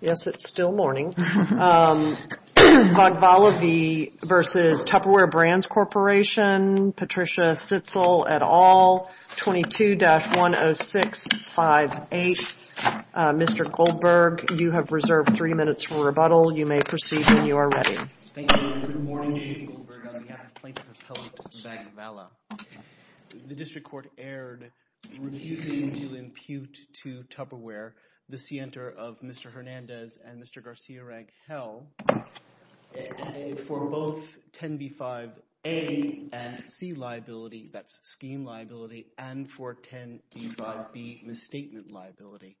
Yes, it's still morning. Vagvala v. Tupperware Brands Corporation. Patricia Stitzel et al. 22-10658. Mr. Goldberg, you have reserved three minutes for rebuttal. You may proceed when you are ready. Thank you. Good morning, Chief Goldberg. On behalf of Plaintiff Appellate Vagvala, the District Court erred refusing to impute to Tupperware the scienter of Mr. Hernandez and Mr. Garcia-Raguel for both 10b-5a and c liability, that's scheme liability, and for 10b-5b, misstatement liability.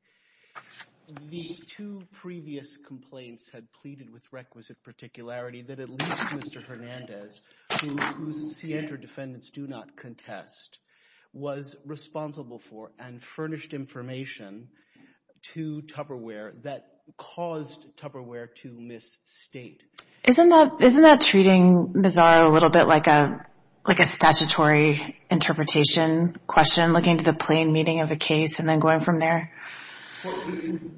The two previous complaints had pleaded with requisite particularity that at least Mr. Hernandez, whose scienter defendants do not contest, was responsible for and furnished information to Tupperware that caused Tupperware to misstate. Isn't that treating Mazzaro a little bit like a statutory interpretation question, looking to the plain meaning of the case and then going from there?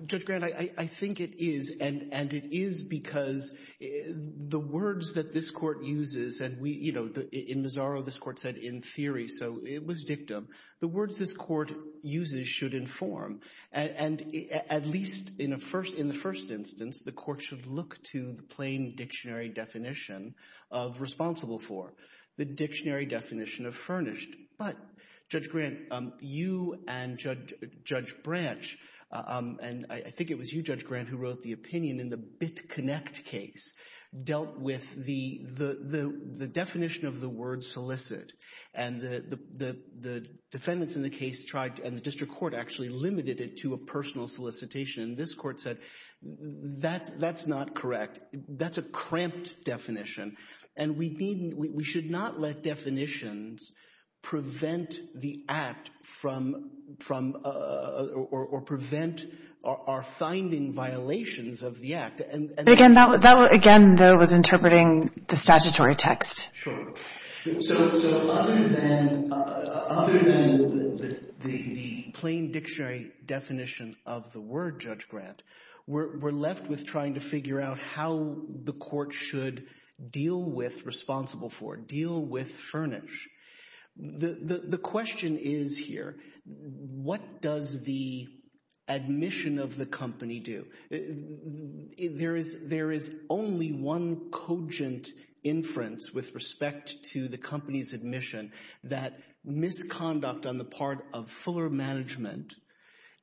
Judge Grant, I think it is, and it is because the words that this Court uses, and in Mazzaro this Court said in theory, so it was dictum. The words this Court uses should inform, and at least in the first instance, the Court should look to the plain dictionary definition of responsible for, the dictionary definition of furnished. But, Judge Grant, you and Judge Branch, and I think it was you, Judge Grant, who wrote the opinion in the BitConnect case, dealt with the definition of the word solicit, and the defendants in the case tried, and the district court actually limited it to a personal solicitation, and this court said, that's not correct. That's a cramped definition, and we should not let definitions prevent the act from, or prevent our finding violations of the act. But, again, that was interpreting the statutory text. Sure. So, other than the plain dictionary definition of the word, Judge Grant, we're left with trying to figure out how the court should deal with responsible for, deal with furnished. The question is here, what does the admission of the company do? There is only one cogent inference with respect to the company's admission that misconduct on the part of Fuller Management,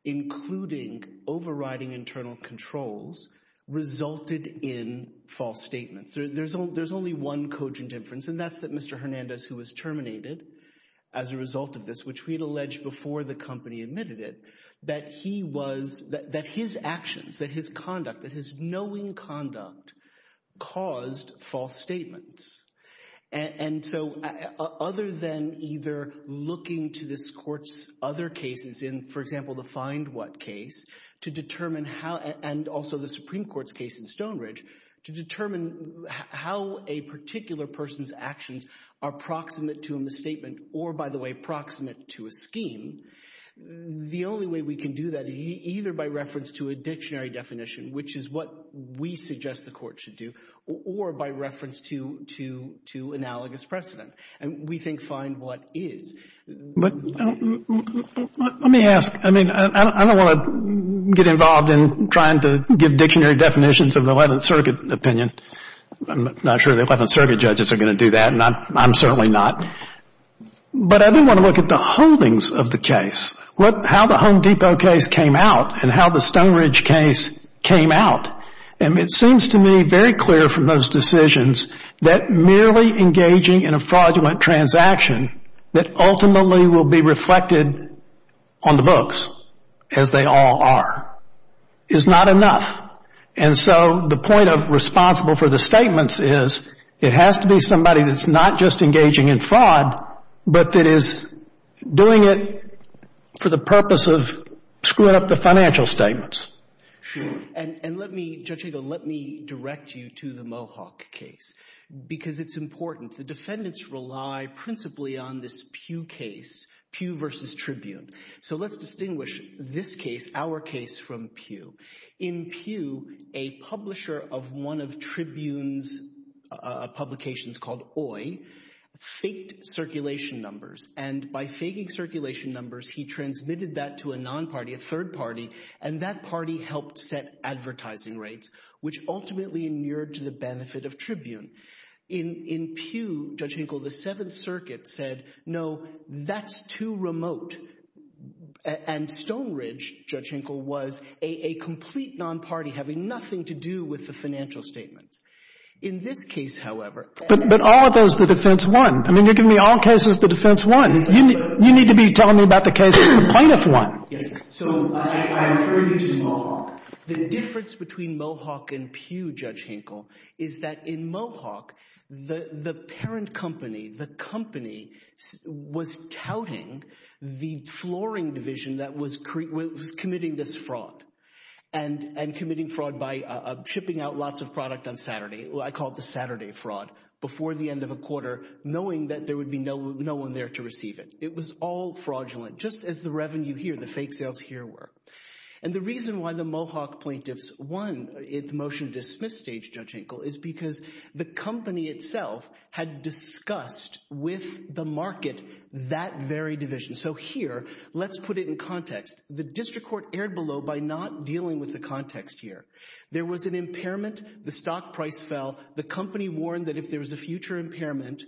including overriding internal controls, resulted in false statements. There's only one cogent inference, and that's that Mr. Hernandez, who was terminated as a result of this, which we had alleged before the company admitted it, that he was, that his actions, that his conduct, that his knowing conduct caused false statements. And so other than either looking to this court's other cases, in, for example, the Find What case, to determine how, and also the Supreme Court's case in Stonebridge, to determine how a particular person's actions are proximate to a misstatement or, by the way, proximate to a scheme, the only way we can do that is either by reference to a dictionary definition, which is what we suggest the court should do, or by reference to analogous precedent. And we think Find What is. But let me ask. I mean, I don't want to get involved in trying to give dictionary definitions of the Eleventh Circuit opinion. I'm not sure the Eleventh Circuit judges are going to do that, and I'm certainly not. But I do want to look at the holdings of the case, how the Home Depot case came out and how the Stonebridge case came out. And it seems to me very clear from those decisions that merely engaging in a fraudulent transaction that ultimately will be reflected on the books, as they all are, is not enough. And so the point of responsible for the statements is it has to be somebody that's not just engaging in fraud but that is doing it for the purpose of screwing up the financial statements. Sure. And let me, Judge Eagle, let me direct you to the Mohawk case because it's important. The defendants rely principally on this Pugh case, Pugh v. Tribune. So let's distinguish this case, our case, from Pugh. In Pugh, a publisher of one of Tribune's publications called Oye faked circulation numbers, and by faking circulation numbers, he transmitted that to a non-party, a third party, and that party helped set advertising rates, which ultimately inured to the benefit of Tribune. In Pugh, Judge Eagle, the Seventh Circuit said, no, that's too remote. And Stone Ridge, Judge Hinkle, was a complete non-party having nothing to do with the financial statements. In this case, however... But all of those, the defense won. I mean, you're giving me all cases, the defense won. You need to be telling me about the cases. The plaintiff won. Yes. So I refer you to Mohawk. The difference between Mohawk and Pugh, Judge Hinkle, is that in Mohawk, the parent company, the company, was touting the flooring division that was committing this fraud and committing fraud by shipping out lots of product on Saturday. I call it the Saturday fraud, before the end of a quarter, knowing that there would be no one there to receive it. It was all fraudulent, just as the revenue here, the fake sales here, were. And the reason why the Mohawk plaintiffs won the motion to dismiss Judge Hinkle is because the company itself had discussed with the market that very division. So here, let's put it in context. The district court erred below by not dealing with the context here. There was an impairment, the stock price fell, the company warned that if there was a future impairment,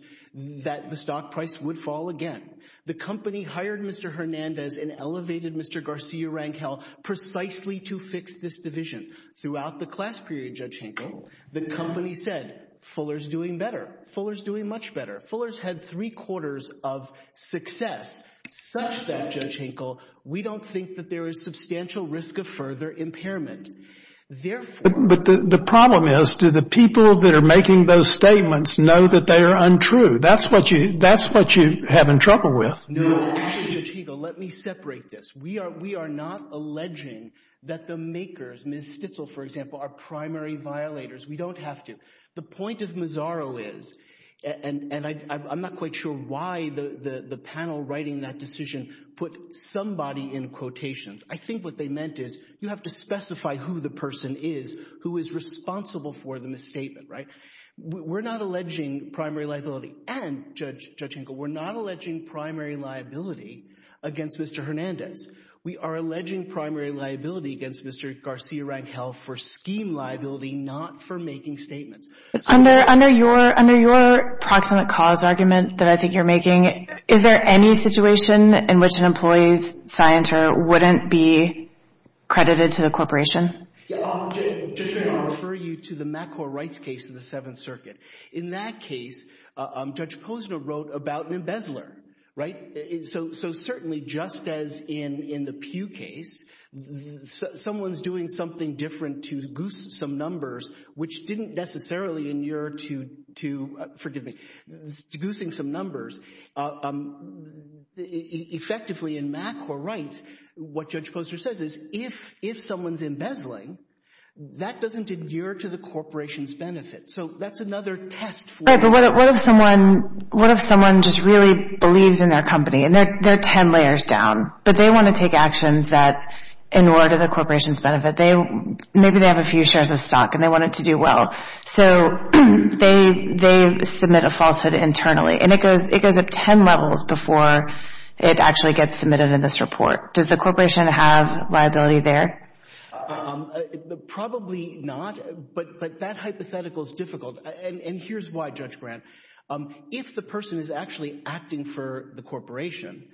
that the stock price would fall again. The company hired Mr. Hernandez and elevated Mr. Garcia-Rangel precisely to fix this division. Throughout the class period, Judge Hinkle, the company said, Fuller's doing better, Fuller's doing much better. Fuller's had three-quarters of success, such that, Judge Hinkle, we don't think that there is substantial risk of further impairment. Therefore— But the problem is, do the people that are making those statements know that they are untrue? That's what you have in trouble with. No, actually, Judge Hinkle, let me separate this. We are not alleging that the makers, Ms. Stitzel, for example, are primary violators. We don't have to. The point of Mazzaro is— and I'm not quite sure why the panel writing that decision put somebody in quotations. I think what they meant is you have to specify who the person is who is responsible for the misstatement, right? We're not alleging primary liability. And, Judge Hinkle, we're not alleging primary liability against Mr. Hernandez. We are alleging primary liability against Mr. Garcia-Rangel for scheme liability, not for making statements. Under your proximate cause argument that I think you're making, is there any situation in which an employee's scienter wouldn't be credited to the corporation? Yeah. I'll refer you to the MACOR rights case in the Seventh Circuit. In that case, Judge Posner wrote about an embezzler, right? So certainly, just as in the Pew case, someone's doing something different to goose some numbers, which didn't necessarily inure to—forgive me, to goosing some numbers. Effectively, in MACOR rights, what Judge Posner says is if someone's embezzling, that doesn't inure to the corporation's benefit. So that's another test for— Right, but what if someone just really believes in their company? And they're 10 layers down, but they want to take actions that inure to the corporation's benefit. Maybe they have a few shares of stock, and they want it to do well. So they submit a falsehood internally, and it goes up 10 levels before it actually gets submitted in this report. Does the corporation have liability there? Probably not, but that hypothetical is difficult. And here's why, Judge Grant. If the person is actually acting for the corporation,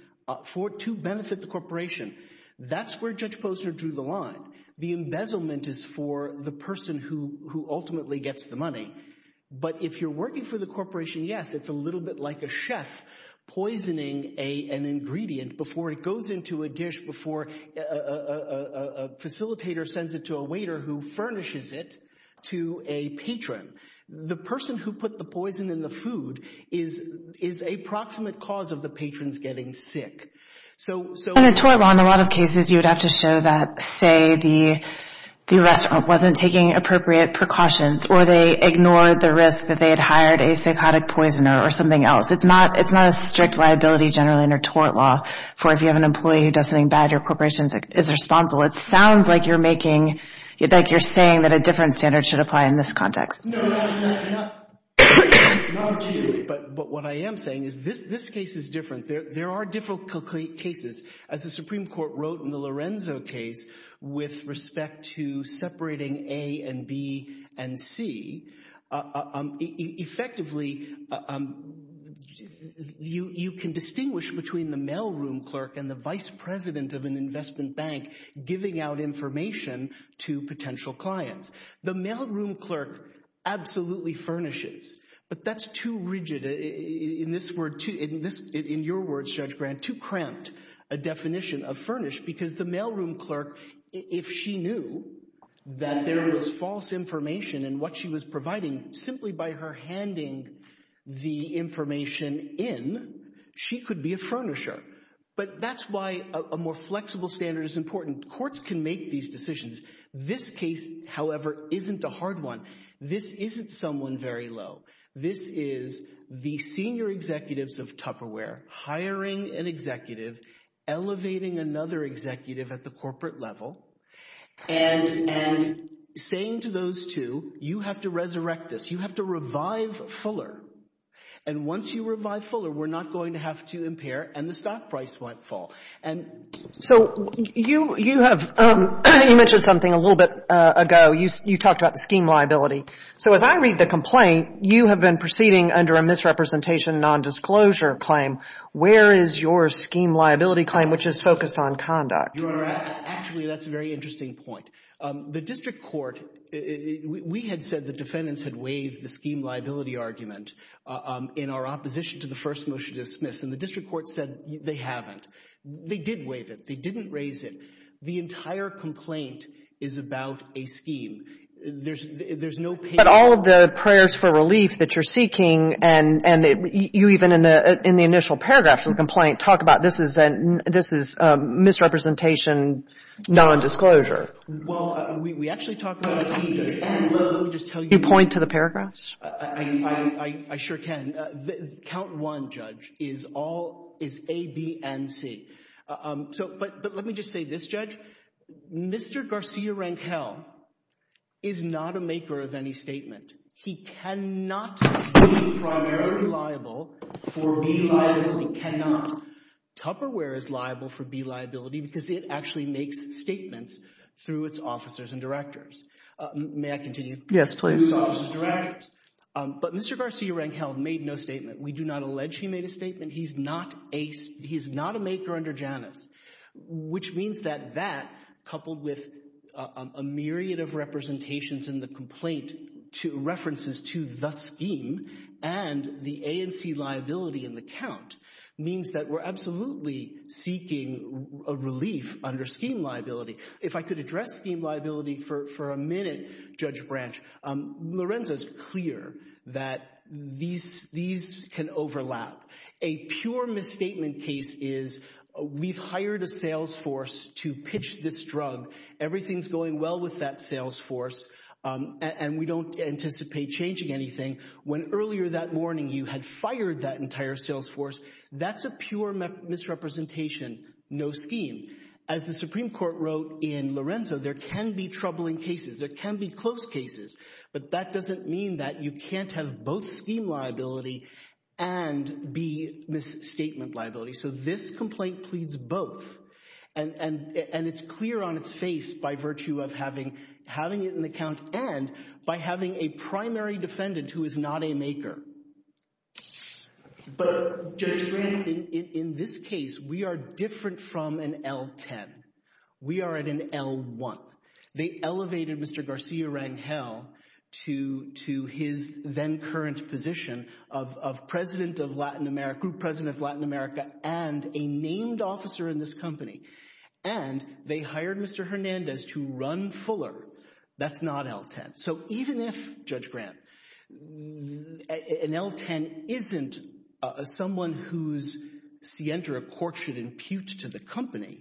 to benefit the corporation, that's where Judge Posner drew the line. The embezzlement is for the person who ultimately gets the money. But if you're working for the corporation, yes, it's a little bit like a chef poisoning an ingredient before it goes into a dish, before a facilitator sends it to a waiter who furnishes it to a patron. The person who put the poison in the food is a proximate cause of the patrons getting sick. In a tort law, in a lot of cases, you would have to show that, say, the restaurant wasn't taking appropriate precautions, or they ignored the risk that they had hired a psychotic poisoner or something else. It's not a strict liability generally in a tort law for if you have an employee who does something bad, your corporation is responsible. It sounds like you're making, like you're saying that a different standard should apply in this context. No, no, no, no. Not particularly. But what I am saying is this case is different. There are different cases. As the Supreme Court wrote in the Lorenzo case with respect to separating A and B and C, effectively you can distinguish between the mailroom clerk and the vice president of an investment bank giving out information to potential clients. The mailroom clerk absolutely furnishes, but that's too rigid, in your words, Judge Grant, too cramped a definition of furnish because the mailroom clerk, if she knew that there was false information in what she was providing, simply by her handing the information in, she could be a furnisher. But that's why a more flexible standard is important. Courts can make these decisions. This case, however, isn't a hard one. This isn't someone very low. This is the senior executives of Tupperware hiring an executive, elevating another executive at the corporate level, and saying to those two, you have to resurrect this. You have to revive Fuller. And once you revive Fuller, we're not going to have to impair, and the stock price might fall. And so you have mentioned something a little bit ago. You talked about the scheme liability. So as I read the complaint, you have been proceeding under a misrepresentation nondisclosure claim. Where is your scheme liability claim, which is focused on conduct? Your Honor, actually, that's a very interesting point. The district court, we had said the defendants had waived the scheme liability argument in our opposition to the first motion to dismiss, and the district court said they haven't. They did waive it. They didn't raise it. The entire complaint is about a scheme. There's no payment. and you even in the initial paragraph of the complaint talk about this is misrepresentation nondisclosure. Well, we actually talked about the scheme. Let me just tell you. Can you point to the paragraphs? I sure can. Count one, Judge, is all, is A, B, and C. But let me just say this, Judge. Mr. Garcia-Rangel is not a maker of any statement. He cannot be primarily liable for being liable. Tupperware is liable for B liability because it actually makes statements through its officers and directors. May I continue? Yes, please. But Mr. Garcia-Rangel made no statement. We do not allege he made a statement. He's not a maker under Janus, which means that that, coupled with a myriad of representations in the complaint to references to the scheme and the A and C liability in the count means that we're absolutely seeking a relief under scheme liability. If I could address scheme liability for a minute, Judge Branch, Lorenzo's clear that these can overlap. A pure misstatement case is we've hired a sales force to pitch this drug. Everything's going well with that sales force and we don't anticipate changing anything when earlier that morning you had fired that entire sales force. That's a pure misrepresentation, no scheme. As the Supreme Court wrote in Lorenzo, there can be troubling cases, there can be close cases, but that doesn't mean that you can't have both scheme liability and B misstatement liability. So this complaint pleads both and it's clear on its face by virtue of having it in the count and by having a primary defendant who is not a maker. But Judge Branch, in this case, we are different from an L-10. We are at an L-1. They elevated Mr. Garcia Rangel to his then current position of group president of Latin America and a named officer in this company and they hired Mr. Hernandez to run Fuller. That's not L-10. So even if, Judge Grant, an L-10 isn't someone whose Sientra court should impute to the company,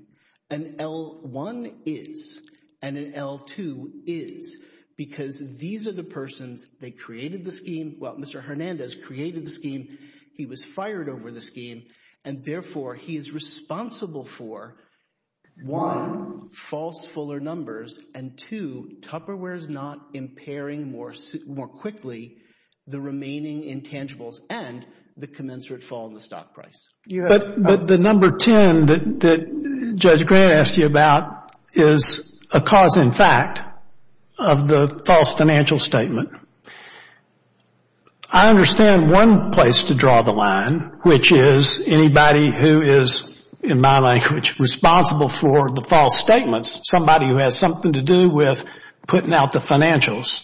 an L-1 is and an L-2 is because these are the persons, they created the scheme, well, Mr. Hernandez created the scheme, he was fired over the scheme and therefore he is responsible for, one, false Fuller numbers and two, Tupperware's not impairing more quickly the remaining intangibles and the commensurate fall in the stock price. But the number 10 that Judge Grant asked you about is a cause in fact of the false financial statement. I understand one place to draw the line, which is anybody who is, in my language, responsible for the false statements, somebody who has something to do with putting out the financials.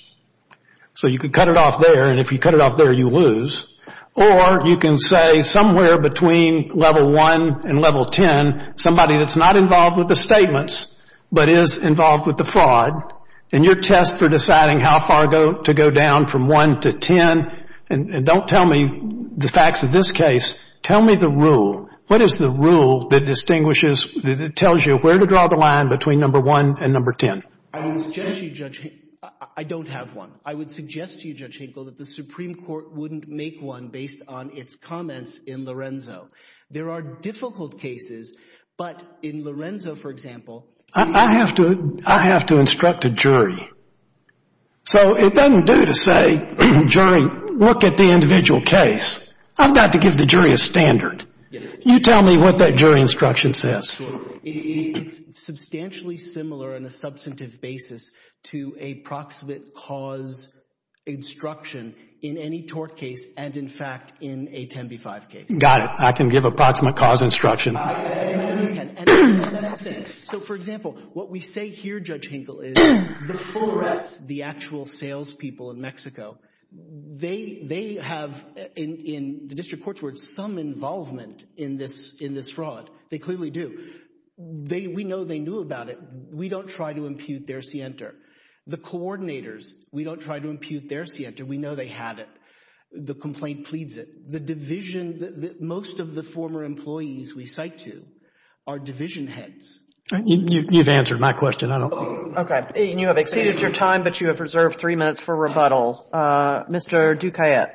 So you could cut it off there and if you cut it off there, you lose. Or you can say somewhere between level 1 and level 10, somebody that's not involved with the statements but is involved with the fraud and you're test for deciding how far to go down from 1 to 10 and don't tell me the facts of this case, tell me the rule. What is the rule that distinguishes, that tells you where to draw the line between number 1 and number 10? I would suggest to you, Judge Hinkle, I don't have one. I would suggest to you, Judge Hinkle, that the Supreme Court wouldn't make one based on its comments in Lorenzo. There are difficult cases, but in Lorenzo, for example, I have to instruct a jury. So it doesn't do to say, jury, look at the individual case. I've got to give the jury a standard. You tell me what that jury instruction says. It's substantially similar on a substantive basis to a proximate cause instruction in any tort case and, in fact, in a 10 v. 5 case. Got it. I can give a proximate cause instruction. So, for example, what we say here, Judge Hinkle, is the full reps, the actual salespeople in Mexico, they have, in the district court's words, some involvement in this fraud. They clearly do. We know they knew about it. We don't try to impute their scienter. The coordinators, we don't try to impute their scienter. We know they had it. The complaint pleads it. The division, most of the former employees we cite to are division heads. You've answered my question. Okay. And you have exceeded your time, but you have reserved three minutes for rebuttal. Mr. Duquiet.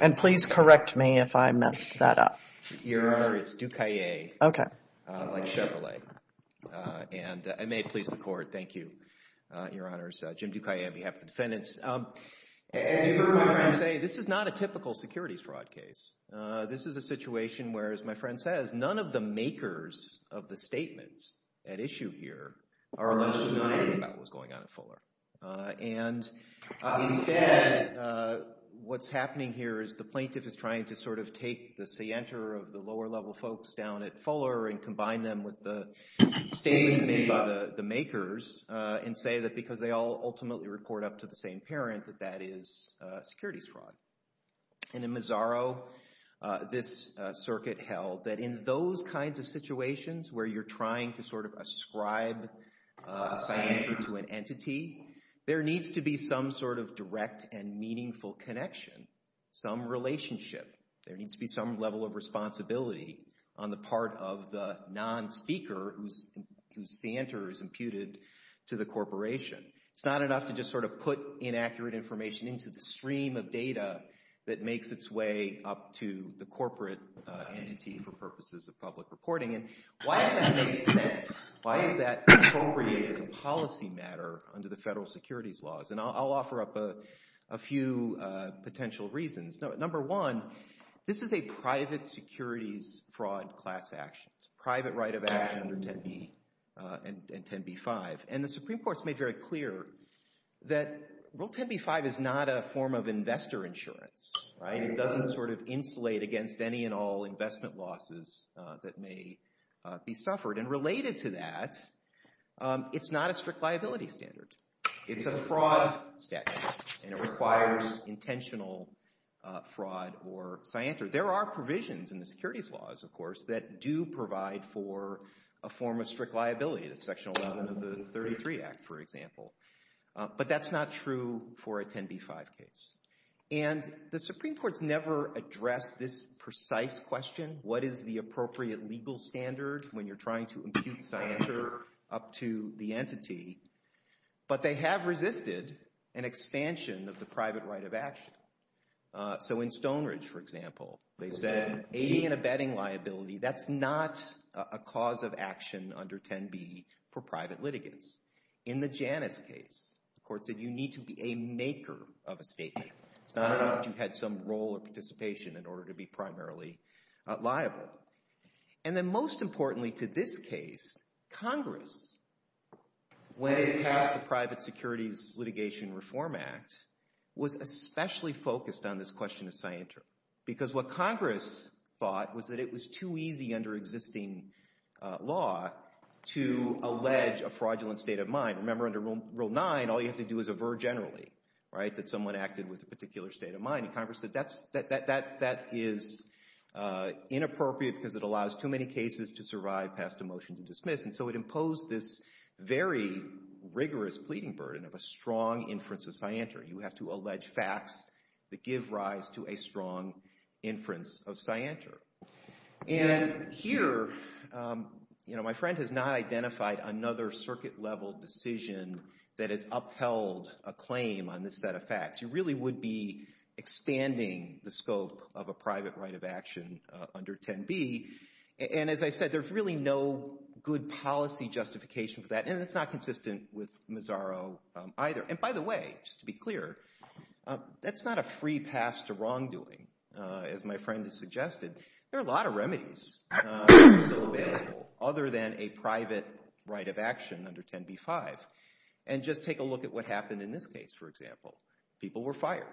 And please correct me if I messed that up. Your Honor, it's Duquiet. Okay. Like Chevrolet. And I may please the court. Thank you, Your Honors. Jim Duquiet on behalf of the defendants. As your Honor, I say this is not a typical securities fraud case. This is a situation where, as my friend says, none of the makers of the statements at issue here are actually knowing about what's going on at Fuller. And instead, what's happening here is the plaintiff is trying to sort of take the scienter of the lower-level folks down at Fuller and combine them with the statements made by the makers and say that because they all ultimately report up to the same parent that that is securities fraud. And in Mazzaro, this circuit held that in those kinds of situations where you're trying to sort of ascribe a scienter to an entity, there needs to be some sort of direct and meaningful connection, some relationship. There needs to be some level of responsibility on the part of the non-speaker whose scienter is imputed to the corporation. It's not enough to just sort of put inaccurate information into the stream of data that makes its way up to the corporate entity for purposes of public reporting. And why does that make sense? Why is that appropriate as a policy matter under the federal securities laws? And I'll offer up a few potential reasons. Number one, this is a private securities fraud class action. It's a private right of action under 10b and 10b-5. And the Supreme Court has made very clear that Rule 10b-5 is not a form of investor insurance. It doesn't sort of insulate against any and all investment losses that may be suffered. And related to that, it's not a strict liability standard. It's a fraud statute, and it requires intentional fraud or scienter. There are provisions in the securities laws, of course, that do provide for a form of strict liability. That's Section 11 of the 33 Act, for example. But that's not true for a 10b-5 case. And the Supreme Court's never addressed this precise question, what is the appropriate legal standard when you're trying to impute scienter up to the entity. But they have resisted an expansion of the private right of action. So in Stone Ridge, for example, they said aiding and abetting liability, that's not a cause of action under 10b for private litigants. In the Janus case, the court said you need to be a maker of a statement. It's not enough that you had some role or participation in order to be primarily liable. And then most importantly to this case, Congress, when it passed the Private Securities Litigation Reform Act, was especially focused on this question of scienter. Because what Congress thought was that it was too easy under existing law to allege a fraudulent state of mind. Remember under Rule 9, all you have to do is aver generally, right, that someone acted with a particular state of mind. And Congress said that is inappropriate because it allows too many cases to survive past a motion to dismiss. And so it imposed this very rigorous pleading burden of a strong inference of scienter. You have to allege facts that give rise to a strong inference of scienter. And here, you know, my friend has not identified another circuit-level decision that has upheld a claim on this set of facts. You really would be expanding the scope of a private right of action under 10b. And as I said, there's really no good policy justification for that, and it's not consistent with Mazzaro either. And by the way, just to be clear, that's not a free pass to wrongdoing, as my friend has suggested. There are a lot of remedies that are still available other than a private right of action under 10b.5. And just take a look at what happened in this case, for example. People were fired.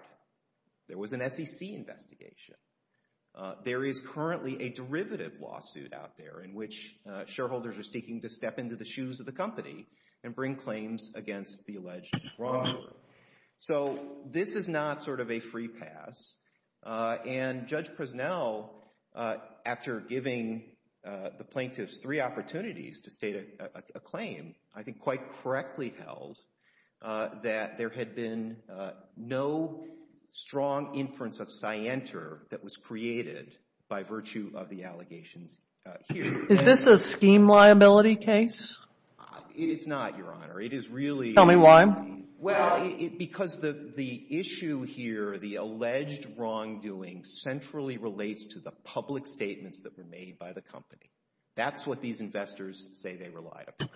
There was an SEC investigation. There is currently a derivative lawsuit out there in which shareholders are seeking to step into the shoes of the company and bring claims against the alleged wrongdoer. So this is not sort of a free pass. And Judge Presnell, after giving the plaintiffs three opportunities to state a claim, I think quite correctly held that there had been no strong inference of scienter that was created by virtue of the allegations here. Is this a scheme liability case? It's not, Your Honor. It is really... Tell me why. Well, because the issue here, the alleged wrongdoing, centrally relates to the public statements that were made by the company. That's what these investors say they relied upon.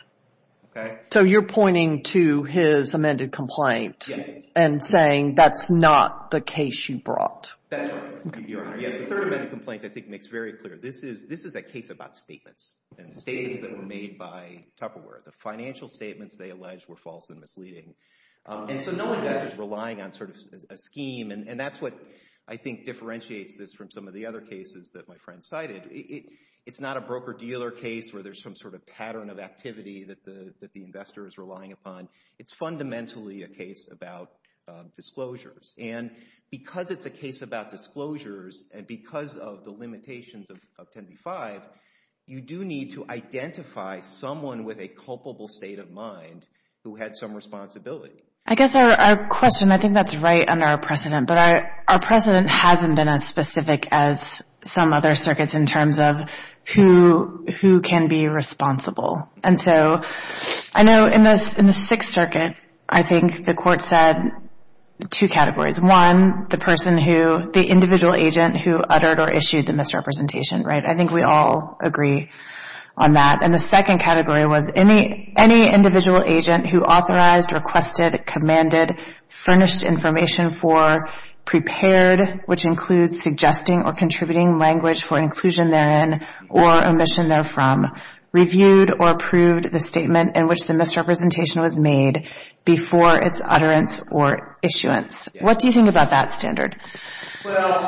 Okay? So you're pointing to his amended complaint... Yes. ...and saying that's not the case you brought. That's right, Your Honor. Yes, the third amended complaint I think makes very clear. This is a case about statements and statements that were made by Tupperware. The financial statements they alleged were false and misleading. And so no investor is relying on sort of a scheme, and that's what I think differentiates this from some of the other cases that my friend cited. It's not a broker-dealer case where there's some sort of pattern of activity that the investor is relying upon. It's fundamentally a case about disclosures. And because it's a case about disclosures and because of the limitations of 10b-5, you do need to identify someone with a culpable state of mind who had some responsibility. I guess our question, I think that's right under our precedent, but our precedent hasn't been as specific as some other circuits in terms of who can be responsible. And so I know in the Sixth Circuit, I think the court said two categories. One, the individual agent who uttered or issued the misrepresentation. I think we all agree on that. And the second category was any individual agent who authorized, requested, commanded, furnished information for, prepared, which includes suggesting or contributing language for inclusion therein or omission therefrom, reviewed or approved the statement in which the misrepresentation was made before its utterance or issuance. What do you think about that standard? Well,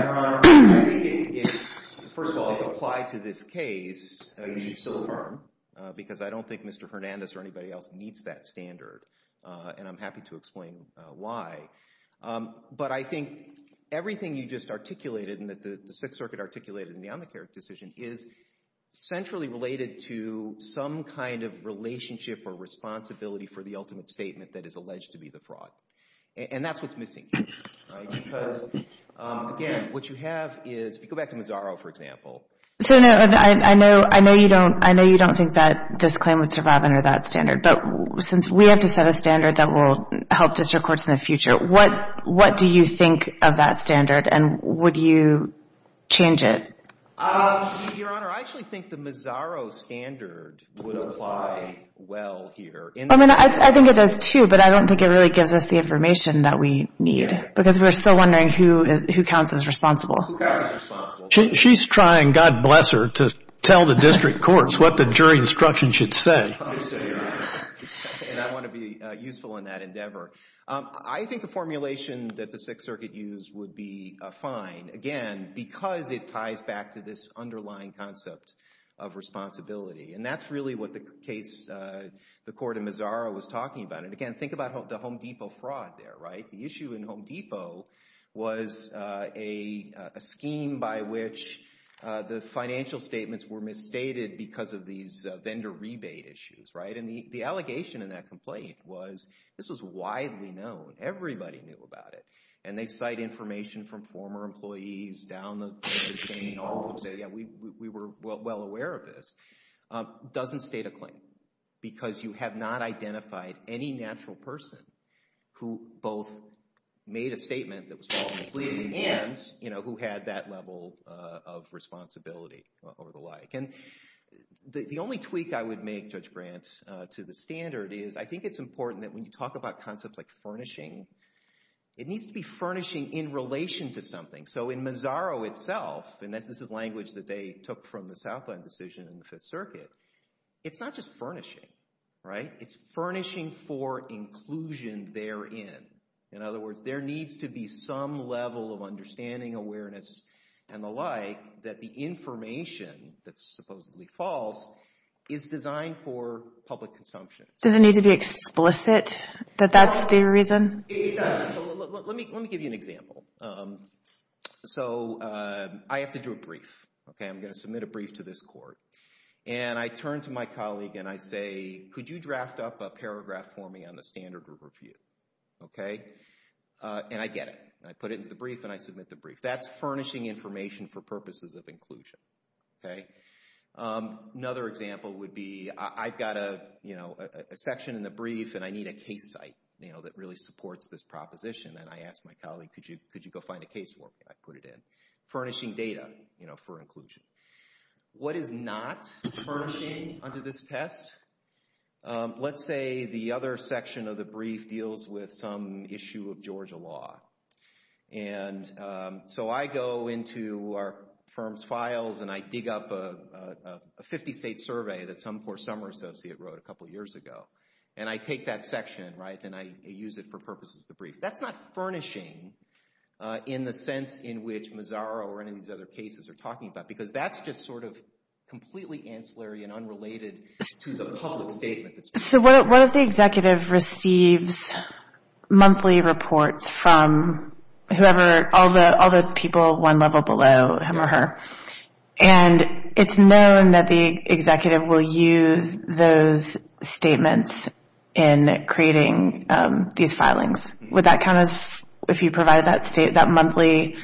Your Honor, I think if, first of all, it applied to this case, you should still affirm because I don't think Mr. Hernandez or anybody else needs that standard. And I'm happy to explain why. But I think everything you just articulated and that the Sixth Circuit articulated in the Amicare decision is centrally related to some kind of relationship And that's what's missing here because, again, what you have is, if you go back to Mazzaro, for example. So I know you don't think that this claim would survive under that standard, but since we have to set a standard that will help district courts in the future, what do you think of that standard and would you change it? Your Honor, I actually think the Mazzaro standard would apply well here. I mean, I think it does too, but I don't think it really gives us the information that we need because we're still wondering who counts as responsible. She's trying, God bless her, to tell the district courts what the jury instruction should say. And I want to be useful in that endeavor. I think the formulation that the Sixth Circuit used would be fine, again, because it ties back to this underlying concept of responsibility. And that's really what the court in Mazzaro was talking about. And, again, think about the Home Depot fraud there, right? The issue in Home Depot was a scheme by which the financial statements were misstated because of these vendor rebate issues, right? And the allegation in that complaint was this was widely known. Everybody knew about it. And they cite information from former employees down the chain. We were well aware of this. It doesn't state a claim because you have not identified any natural person who both made a statement that was false completely and who had that level of responsibility or the like. And the only tweak I would make, Judge Grant, to the standard is I think it's important that when you talk about concepts like furnishing, it needs to be furnishing in relation to something. So in Mazzaro itself, and this is language that they took from the Southland decision in the Fifth Circuit, it's not just furnishing, right? It's furnishing for inclusion therein. In other words, there needs to be some level of understanding, awareness, and the like that the information that's supposedly false is designed for public consumption. Does it need to be explicit that that's the reason? Let me give you an example. So I have to do a brief. I'm going to submit a brief to this court. And I turn to my colleague and I say, could you draft up a paragraph for me on the standard group review? And I get it. I put it into the brief and I submit the brief. That's furnishing information for purposes of inclusion. Another example would be I've got a section in the brief and I need a case site that really supports this proposition. And I ask my colleague, could you go find a case work? I put it in. Furnishing data for inclusion. What is not furnishing under this test? Let's say the other section of the brief deals with some issue of Georgia law. And so I go into our firm's files and I dig up a 50-state survey that some poor summer associate wrote a couple years ago. And I take that section and I use it for purposes of the brief. That's not furnishing in the sense in which Mazzaro or any of these other cases are talking about, because that's just sort of completely ancillary and unrelated to the public statement. So what if the executive receives monthly reports from whoever, all the people one level below him or her? And it's known that the executive will use those statements in creating these filings. Would that count as, if you provided that state, that monthly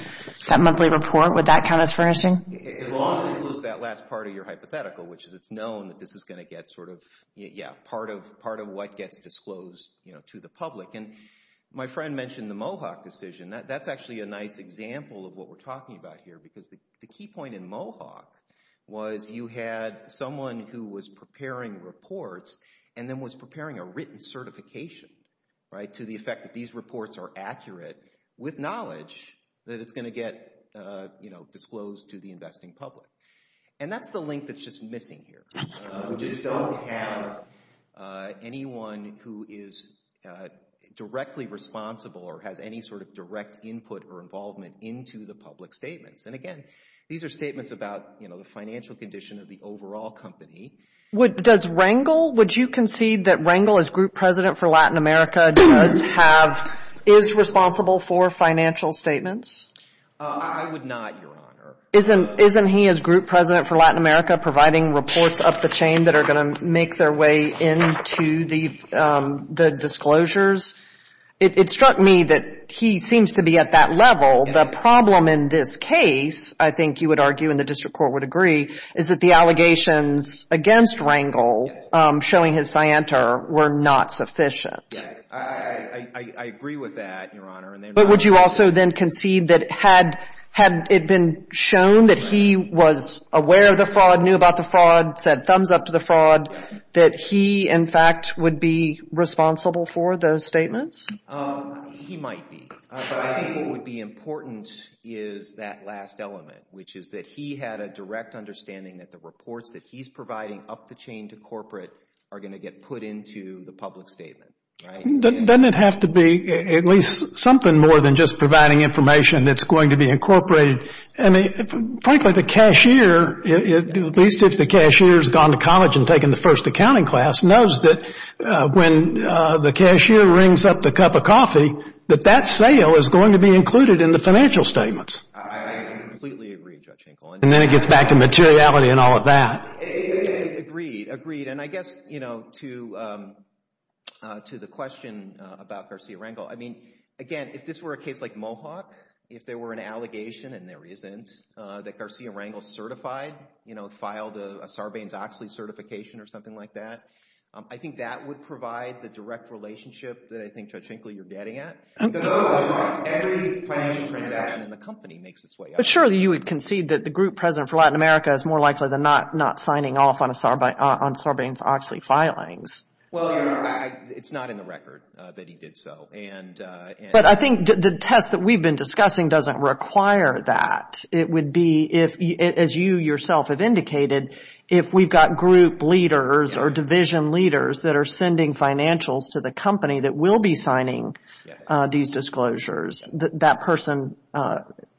report, would that count as furnishing? It also includes that last part of your hypothetical, which is it's known that this is going to get sort of, yeah, part of what gets disclosed to the public. And my friend mentioned the Mohawk decision. That's actually a nice example of what we're talking about here, because the key point in Mohawk was you had someone who was preparing reports and then was preparing a written certification, right, to the effect that these reports are accurate with knowledge that it's going to get disclosed to the investing public. And that's the link that's just missing here. We just don't have anyone who is directly responsible or has any sort of direct input or involvement into the public statements. And again, these are statements about the financial condition of the overall company. Does Rangel, would you concede that Rangel as group president for Latin America does have, is responsible for financial statements? I would not, Your Honor. Isn't he as group president for Latin America providing reports up the chain that are going to make their way into the disclosures? It struck me that he seems to be at that level. The problem in this case, I think you would argue and the district court would agree, is that the allegations against Rangel showing his scienter were not sufficient. Yes. I agree with that, Your Honor. But would you also then concede that had it been shown that he was aware of the fraud, knew about the fraud, said thumbs up to the fraud, that he in fact would be responsible for those statements? He might be. I think what would be important is that last element, which is that he had a direct understanding that the reports that he's providing up the chain to corporate are going to get put into the public statement. Doesn't it have to be at least something more than just providing information that's going to be incorporated? Frankly, the cashier, at least if the cashier has gone to college and taken the first accounting class, knows that when the cashier rings up the cup of coffee, that that sale is going to be included in the financial statements. I completely agree, Judge Hinkle. And then it gets back to materiality and all of that. Agreed, agreed. And I guess, you know, to the question about Garcia-Rangel, I mean, again, if this were a case like Mohawk, if there were an allegation, and there isn't, that Garcia-Rangel certified, you know, filed a Sarbanes-Oxley certification or something like that, I think that would provide the direct relationship that I think, Judge Hinkle, you're getting at. Because every financial transaction in the company makes its way up. But surely you would concede that the group president for Latin America is more likely than not not signing off on Sarbanes-Oxley filings. Well, it's not in the record that he did so. But I think the test that we've been discussing doesn't require that. It would be, as you yourself have indicated, if we've got group leaders or division leaders that are sending financials to the company that will be signing these disclosures, that that person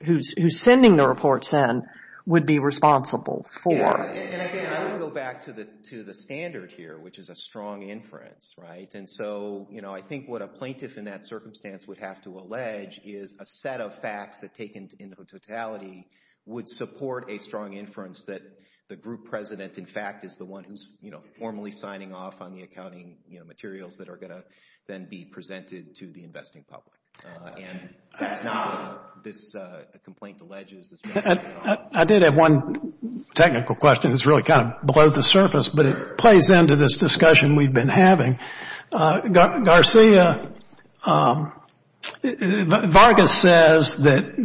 who's sending the reports in would be responsible for. And again, I would go back to the standard here, which is a strong inference, right? And so, you know, I think what a plaintiff in that circumstance would have to allege is a set of facts that taken in totality would support a strong inference that the group president, in fact, is the one who's formally signing off on the accounting materials that are going to then be presented to the investing public. And that's not what this complaint alleges. I did have one technical question that's really kind of below the surface, but it plays into this discussion we've been having. Garcia, Vargas says that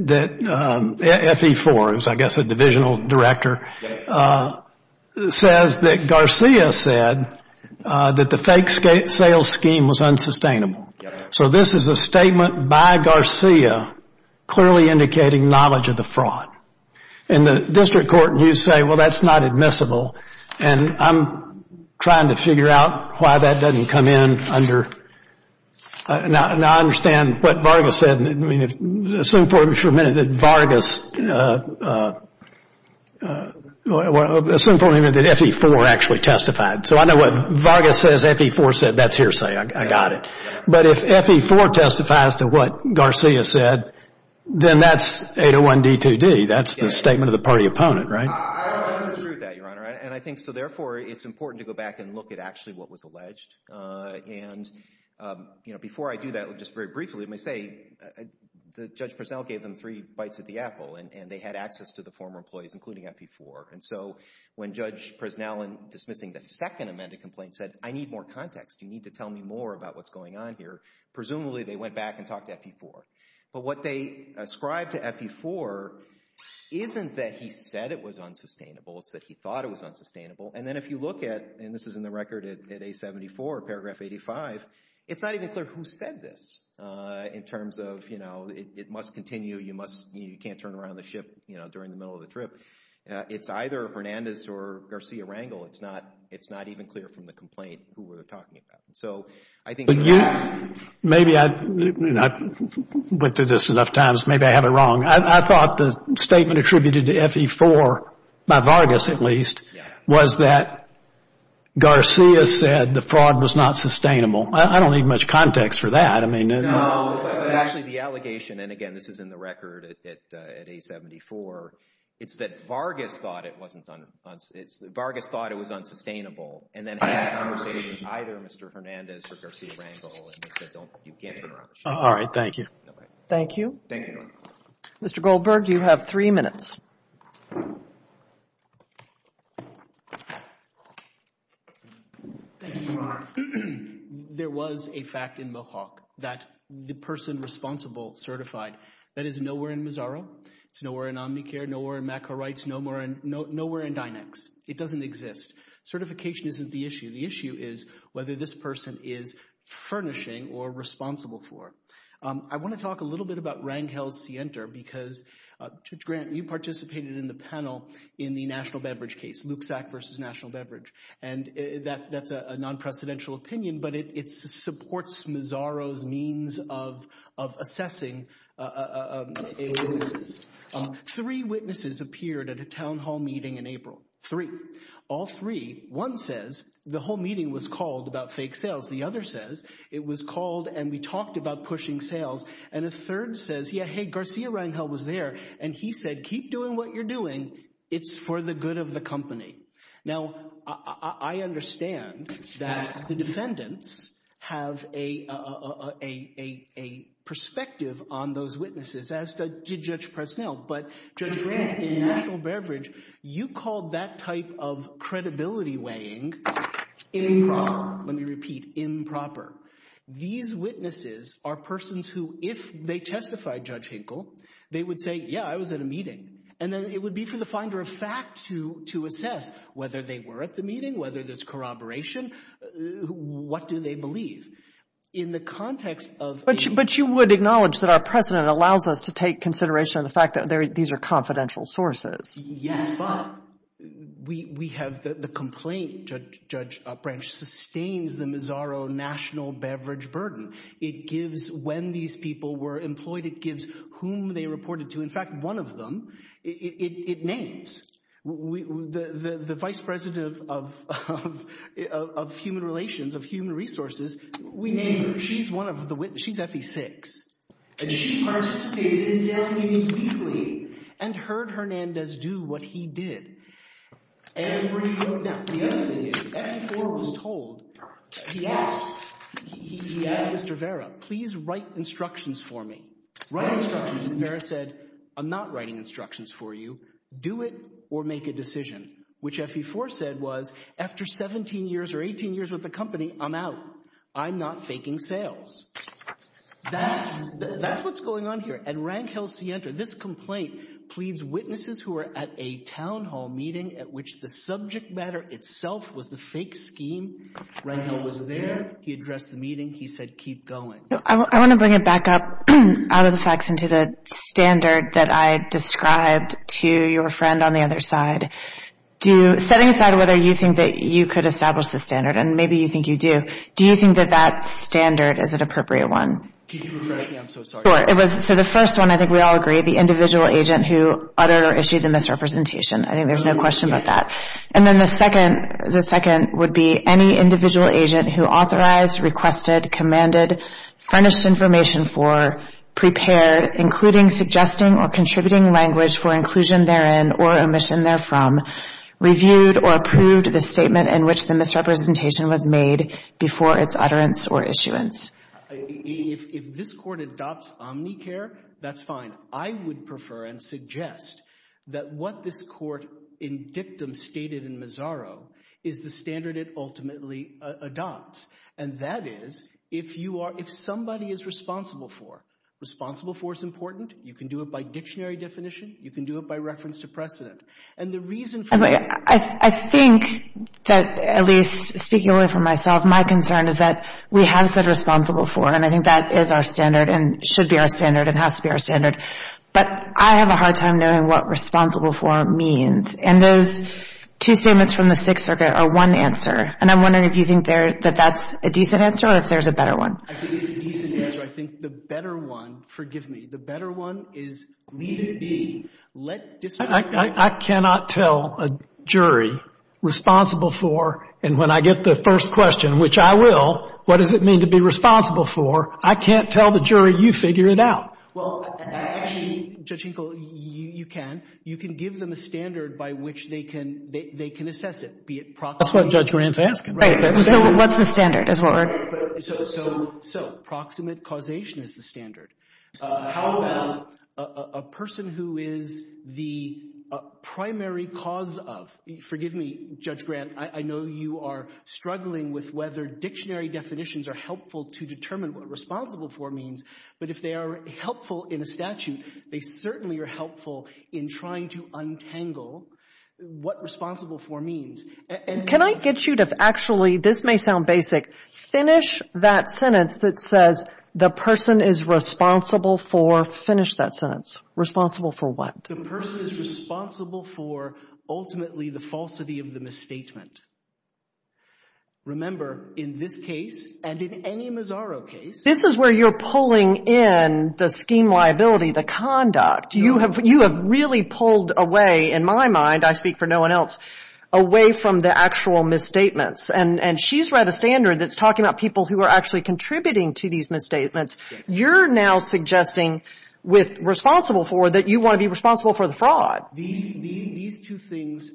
FE4, who's I guess a divisional director, says that Garcia said that the fake sales scheme was unsustainable. So this is a statement by Garcia clearly indicating knowledge of the fraud. In the district court, you say, well, that's not admissible, and I'm trying to figure out why that doesn't come in under. Now, I understand what Vargas said. I mean, assume for a minute that Vargas, assume for a minute that FE4 actually testified. So I know what Vargas says, FE4 said, that's hearsay. I got it. But if FE4 testifies to what Garcia said, then that's 801D2D. That's the statement of the party opponent, right? I agree with that, Your Honor. And I think so, therefore, it's important to go back and look at actually what was alleged. And, you know, before I do that, just very briefly, let me say, Judge Preznell gave them three bites at the apple, and they had access to the former employees, including FE4. And so when Judge Preznell, in dismissing the second amended complaint, said, I need more context, you need to tell me more about what's going on here, presumably they went back and talked to FE4. But what they ascribed to FE4 isn't that he said it was unsustainable, it's that he thought it was unsustainable. And then if you look at, and this is in the record at A74, paragraph 85, it's not even clear who said this in terms of, you know, it must continue, you can't turn around the ship during the middle of the trip. It's either Hernandez or Garcia-Wrangell. It's not even clear from the complaint who we're talking about. So I think... But you, maybe I, you know, I went through this enough times, maybe I have it wrong. I thought the statement attributed to FE4, by Vargas at least, was that Garcia said the fraud was not sustainable. I don't need much context for that. No, but actually the allegation, and again, this is in the record at A74, it's that Vargas thought it was unsustainable and then had a conversation with either Mr. Hernandez or Garcia-Wrangell and they said you can't turn around the ship. All right, thank you. Thank you. Thank you. Mr. Goldberg, you have three minutes. There was a fact in Mohawk that the person responsible certified, that is nowhere in Mazzaro, it's nowhere in Omnicare, nowhere in MACA Rights, nowhere in Dynex. It doesn't exist. Certification isn't the issue. The issue is whether this person is furnishing or responsible for it. I want to talk a little bit about Wrangel-Sienter because you participated in the panel in the National Beverage case, Luke Sack versus National Beverage, and that's a non-precedential opinion, but it supports Mazzaro's means of assessing witnesses. Three witnesses appeared at a town hall meeting in April, three, all three. One says the whole meeting was called about fake sales. The other says it was called and we talked about pushing sales, and a third says, yeah, hey, Garcia-Wrangell was there, and he said keep doing what you're doing. It's for the good of the company. Now, I understand that the defendants have a perspective on those witnesses as did Judge Presnell, but Judge Grant in National Beverage, you called that type of credibility weighing improper. Let me repeat, improper. These witnesses are persons who if they testified, Judge Hinkle, and then it would be for the finder of fact to assess whether they were at the meeting, whether there's corroboration, what do they believe. But you would acknowledge that our precedent allows us to take consideration of the fact that these are confidential sources. Yes, but we have the complaint, Judge Upbranch, sustains the Mazzaro National Beverage burden. It gives when these people were employed, it gives whom they reported to. In fact, one of them, it names. The vice president of human relations, of human resources, we named her. She's one of the witnesses. She's FE6. She participated in sales meetings weekly and heard Hernandez do what he did. Now, the other thing is FE4 was told, he asked Mr. Vera, please write instructions for me. Write instructions. And Vera said, I'm not writing instructions for you. Do it or make a decision, which FE4 said was after 17 years or 18 years with the company, I'm out. I'm not faking sales. That's what's going on here. And Rankhill Sienta, this complaint, pleads witnesses who are at a town hall meeting at which the subject matter itself was the fake scheme. Rankhill was there. He addressed the meeting. He said, keep going. I want to bring it back up out of the facts into the standard that I described to your friend on the other side. Setting aside whether you think that you could establish the standard, and maybe you think you do, do you think that that standard is an appropriate one? Could you refresh me? I'm so sorry. Sure. So the first one, I think we all agree, the individual agent who uttered or issued the misrepresentation. I think there's no question about that. And then the second would be any individual agent who authorized, requested, commanded, furnished information for, prepared, including suggesting or contributing language for inclusion therein or omission therefrom, reviewed or approved the statement in which the misrepresentation was made before its utterance or issuance. If this Court adopts omnicare, that's fine. I would prefer and suggest that what this Court in dictum stated in Mazzaro is the standard it ultimately adopts. And that is if you are, if somebody is responsible for, responsible for is important, you can do it by dictionary definition, you can do it by reference to precedent. And the reason for that. I think that, at least speaking only for myself, my concern is that we have said responsible for, and I think that is our standard and should be our standard and has to be our standard. But I have a hard time knowing what responsible for means. And those two statements from the Sixth Circuit are one answer. And I'm wondering if you think that that's a decent answer or if there's a better one. I think it's a decent answer. I think the better one, forgive me, the better one is leave it be. I cannot tell a jury responsible for, and when I get the first question, which I will, what does it mean to be responsible for, I can't tell the jury you figure it out. Well, actually, Judge Hinkle, you can. You can give them a standard by which they can, they can assess it. That's what Judge Grant is asking. So what's the standard? So proximate causation is the standard. How about a person who is the primary cause of? Forgive me, Judge Grant, I know you are struggling with whether dictionary definitions are helpful to determine what responsible for means. But if they are helpful in a statute, they certainly are helpful in trying to untangle what responsible for means. Can I get you to actually, this may sound basic, finish that sentence that says the person is responsible for, finish that sentence, responsible for what? The person is responsible for ultimately the falsity of the misstatement. Remember, in this case and in any Mazzaro case. This is where you're pulling in the scheme liability, the conduct. You have really pulled away, in my mind, I speak for no one else, away from the actual misstatements. And she's read a standard that's talking about people who are actually contributing to these misstatements. You're now suggesting with responsible for that you want to be responsible for the fraud. These two things,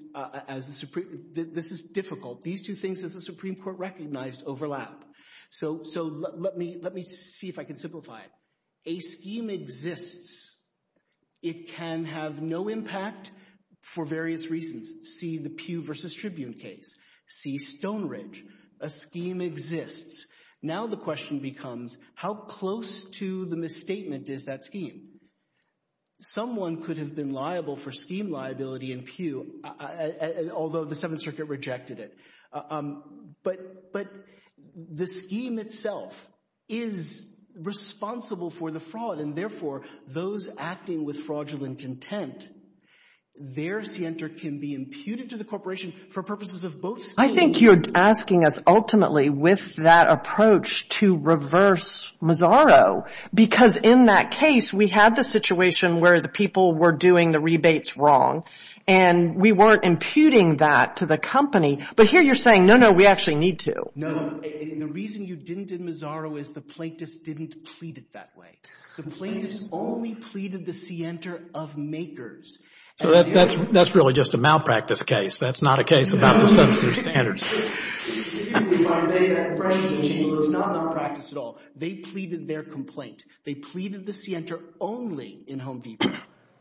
this is difficult. These two things, as the Supreme Court recognized, overlap. So let me see if I can simplify it. A scheme exists. It can have no impact for various reasons. See the Pew versus Tribune case. See Stone Ridge. A scheme exists. Now the question becomes how close to the misstatement is that scheme? Someone could have been liable for scheme liability in Pew, although the Seventh Circuit rejected it. But the scheme itself is responsible for the fraud, and therefore those acting with fraudulent intent, their scienter can be imputed to the corporation for purposes of both schemes. I think you're asking us ultimately with that approach to reverse Mazzaro because in that case we had the situation where the people were doing the rebates wrong, and we weren't imputing that to the company. But here you're saying, no, no, we actually need to. No, the reason you didn't in Mazzaro is the plaintiffs didn't plead it that way. The plaintiffs only pleaded the scienter of makers. So that's really just a malpractice case. That's not a case about the censor standards. If you believe I may, that question is not malpractice at all. They pleaded their complaint. They pleaded the scienter only in Home Depot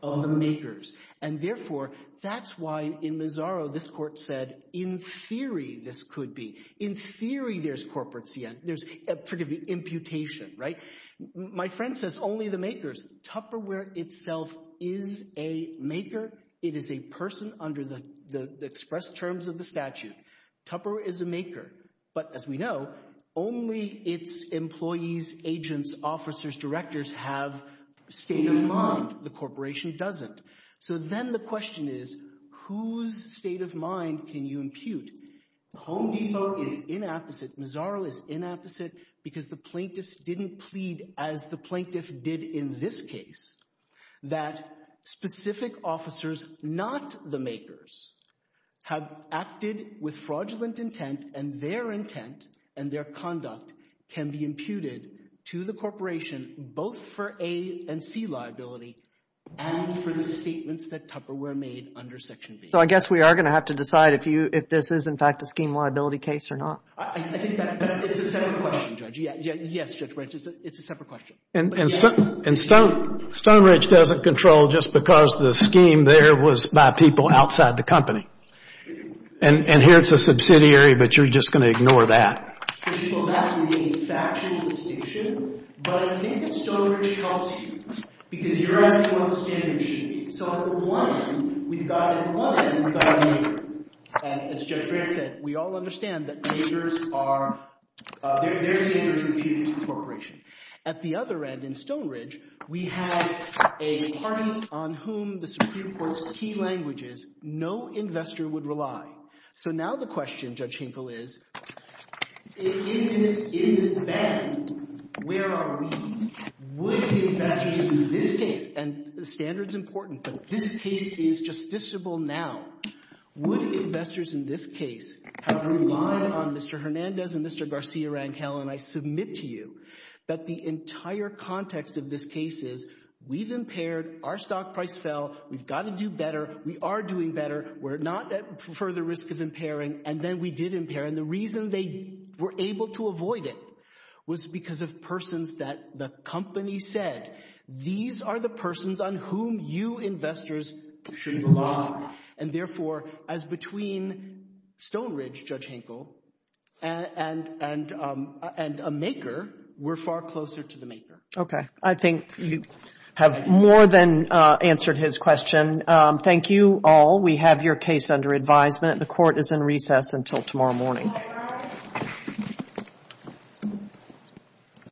of the makers, and therefore that's why in Mazzaro this court said in theory this could be. In theory there's corporate scienter. There's, forgive me, imputation, right? My friend says only the makers. Tupperware itself is a maker. It is a person under the express terms of the statute. Tupperware is a maker. But as we know, only its employees, agents, officers, directors have state of mind. The corporation doesn't. So then the question is whose state of mind can you impute? Home Depot is inapposite. Because the plaintiffs didn't plead as the plaintiff did in this case, that specific officers, not the makers, have acted with fraudulent intent and their intent and their conduct can be imputed to the corporation both for A and C liability and for the statements that Tupperware made under Section B. So I guess we are going to have to decide if this is in fact a scheme liability case or not. I think that it's a separate question, Judge. Yes, Judge Branch, it's a separate question. And Stonebridge doesn't control just because the scheme there was by people outside the company. And here it's a subsidiary, but you're just going to ignore that. Well, that is a factual distinction, but I think that Stonebridge helps you because you're asking what the standards should be. So at the one end, we've got a client and we've got a maker. And as Judge Branch said, we all understand that makers are their standards impute to the corporation. At the other end, in Stonebridge, we have a party on whom the Supreme Court's key language is no investor would rely. So now the question, Judge Hinkle, is in this band, where are we? Would investors in this case, and the standard is important, but this case is justiciable now. Would investors in this case have relied on Mr. Hernandez and Mr. Garcia-Rangel, and I submit to you that the entire context of this case is we've impaired, our stock price fell, we've got to do better, we are doing better, we're not at further risk of impairing, and then we did impair. And the reason they were able to avoid it was because of persons that the company said, these are the persons on whom you investors should rely. And therefore, as between Stonebridge, Judge Hinkle, and a maker, we're far closer to the maker. Okay, I think you have more than answered his question. Thank you all. We have your case under advisement. The court is in recess until tomorrow morning.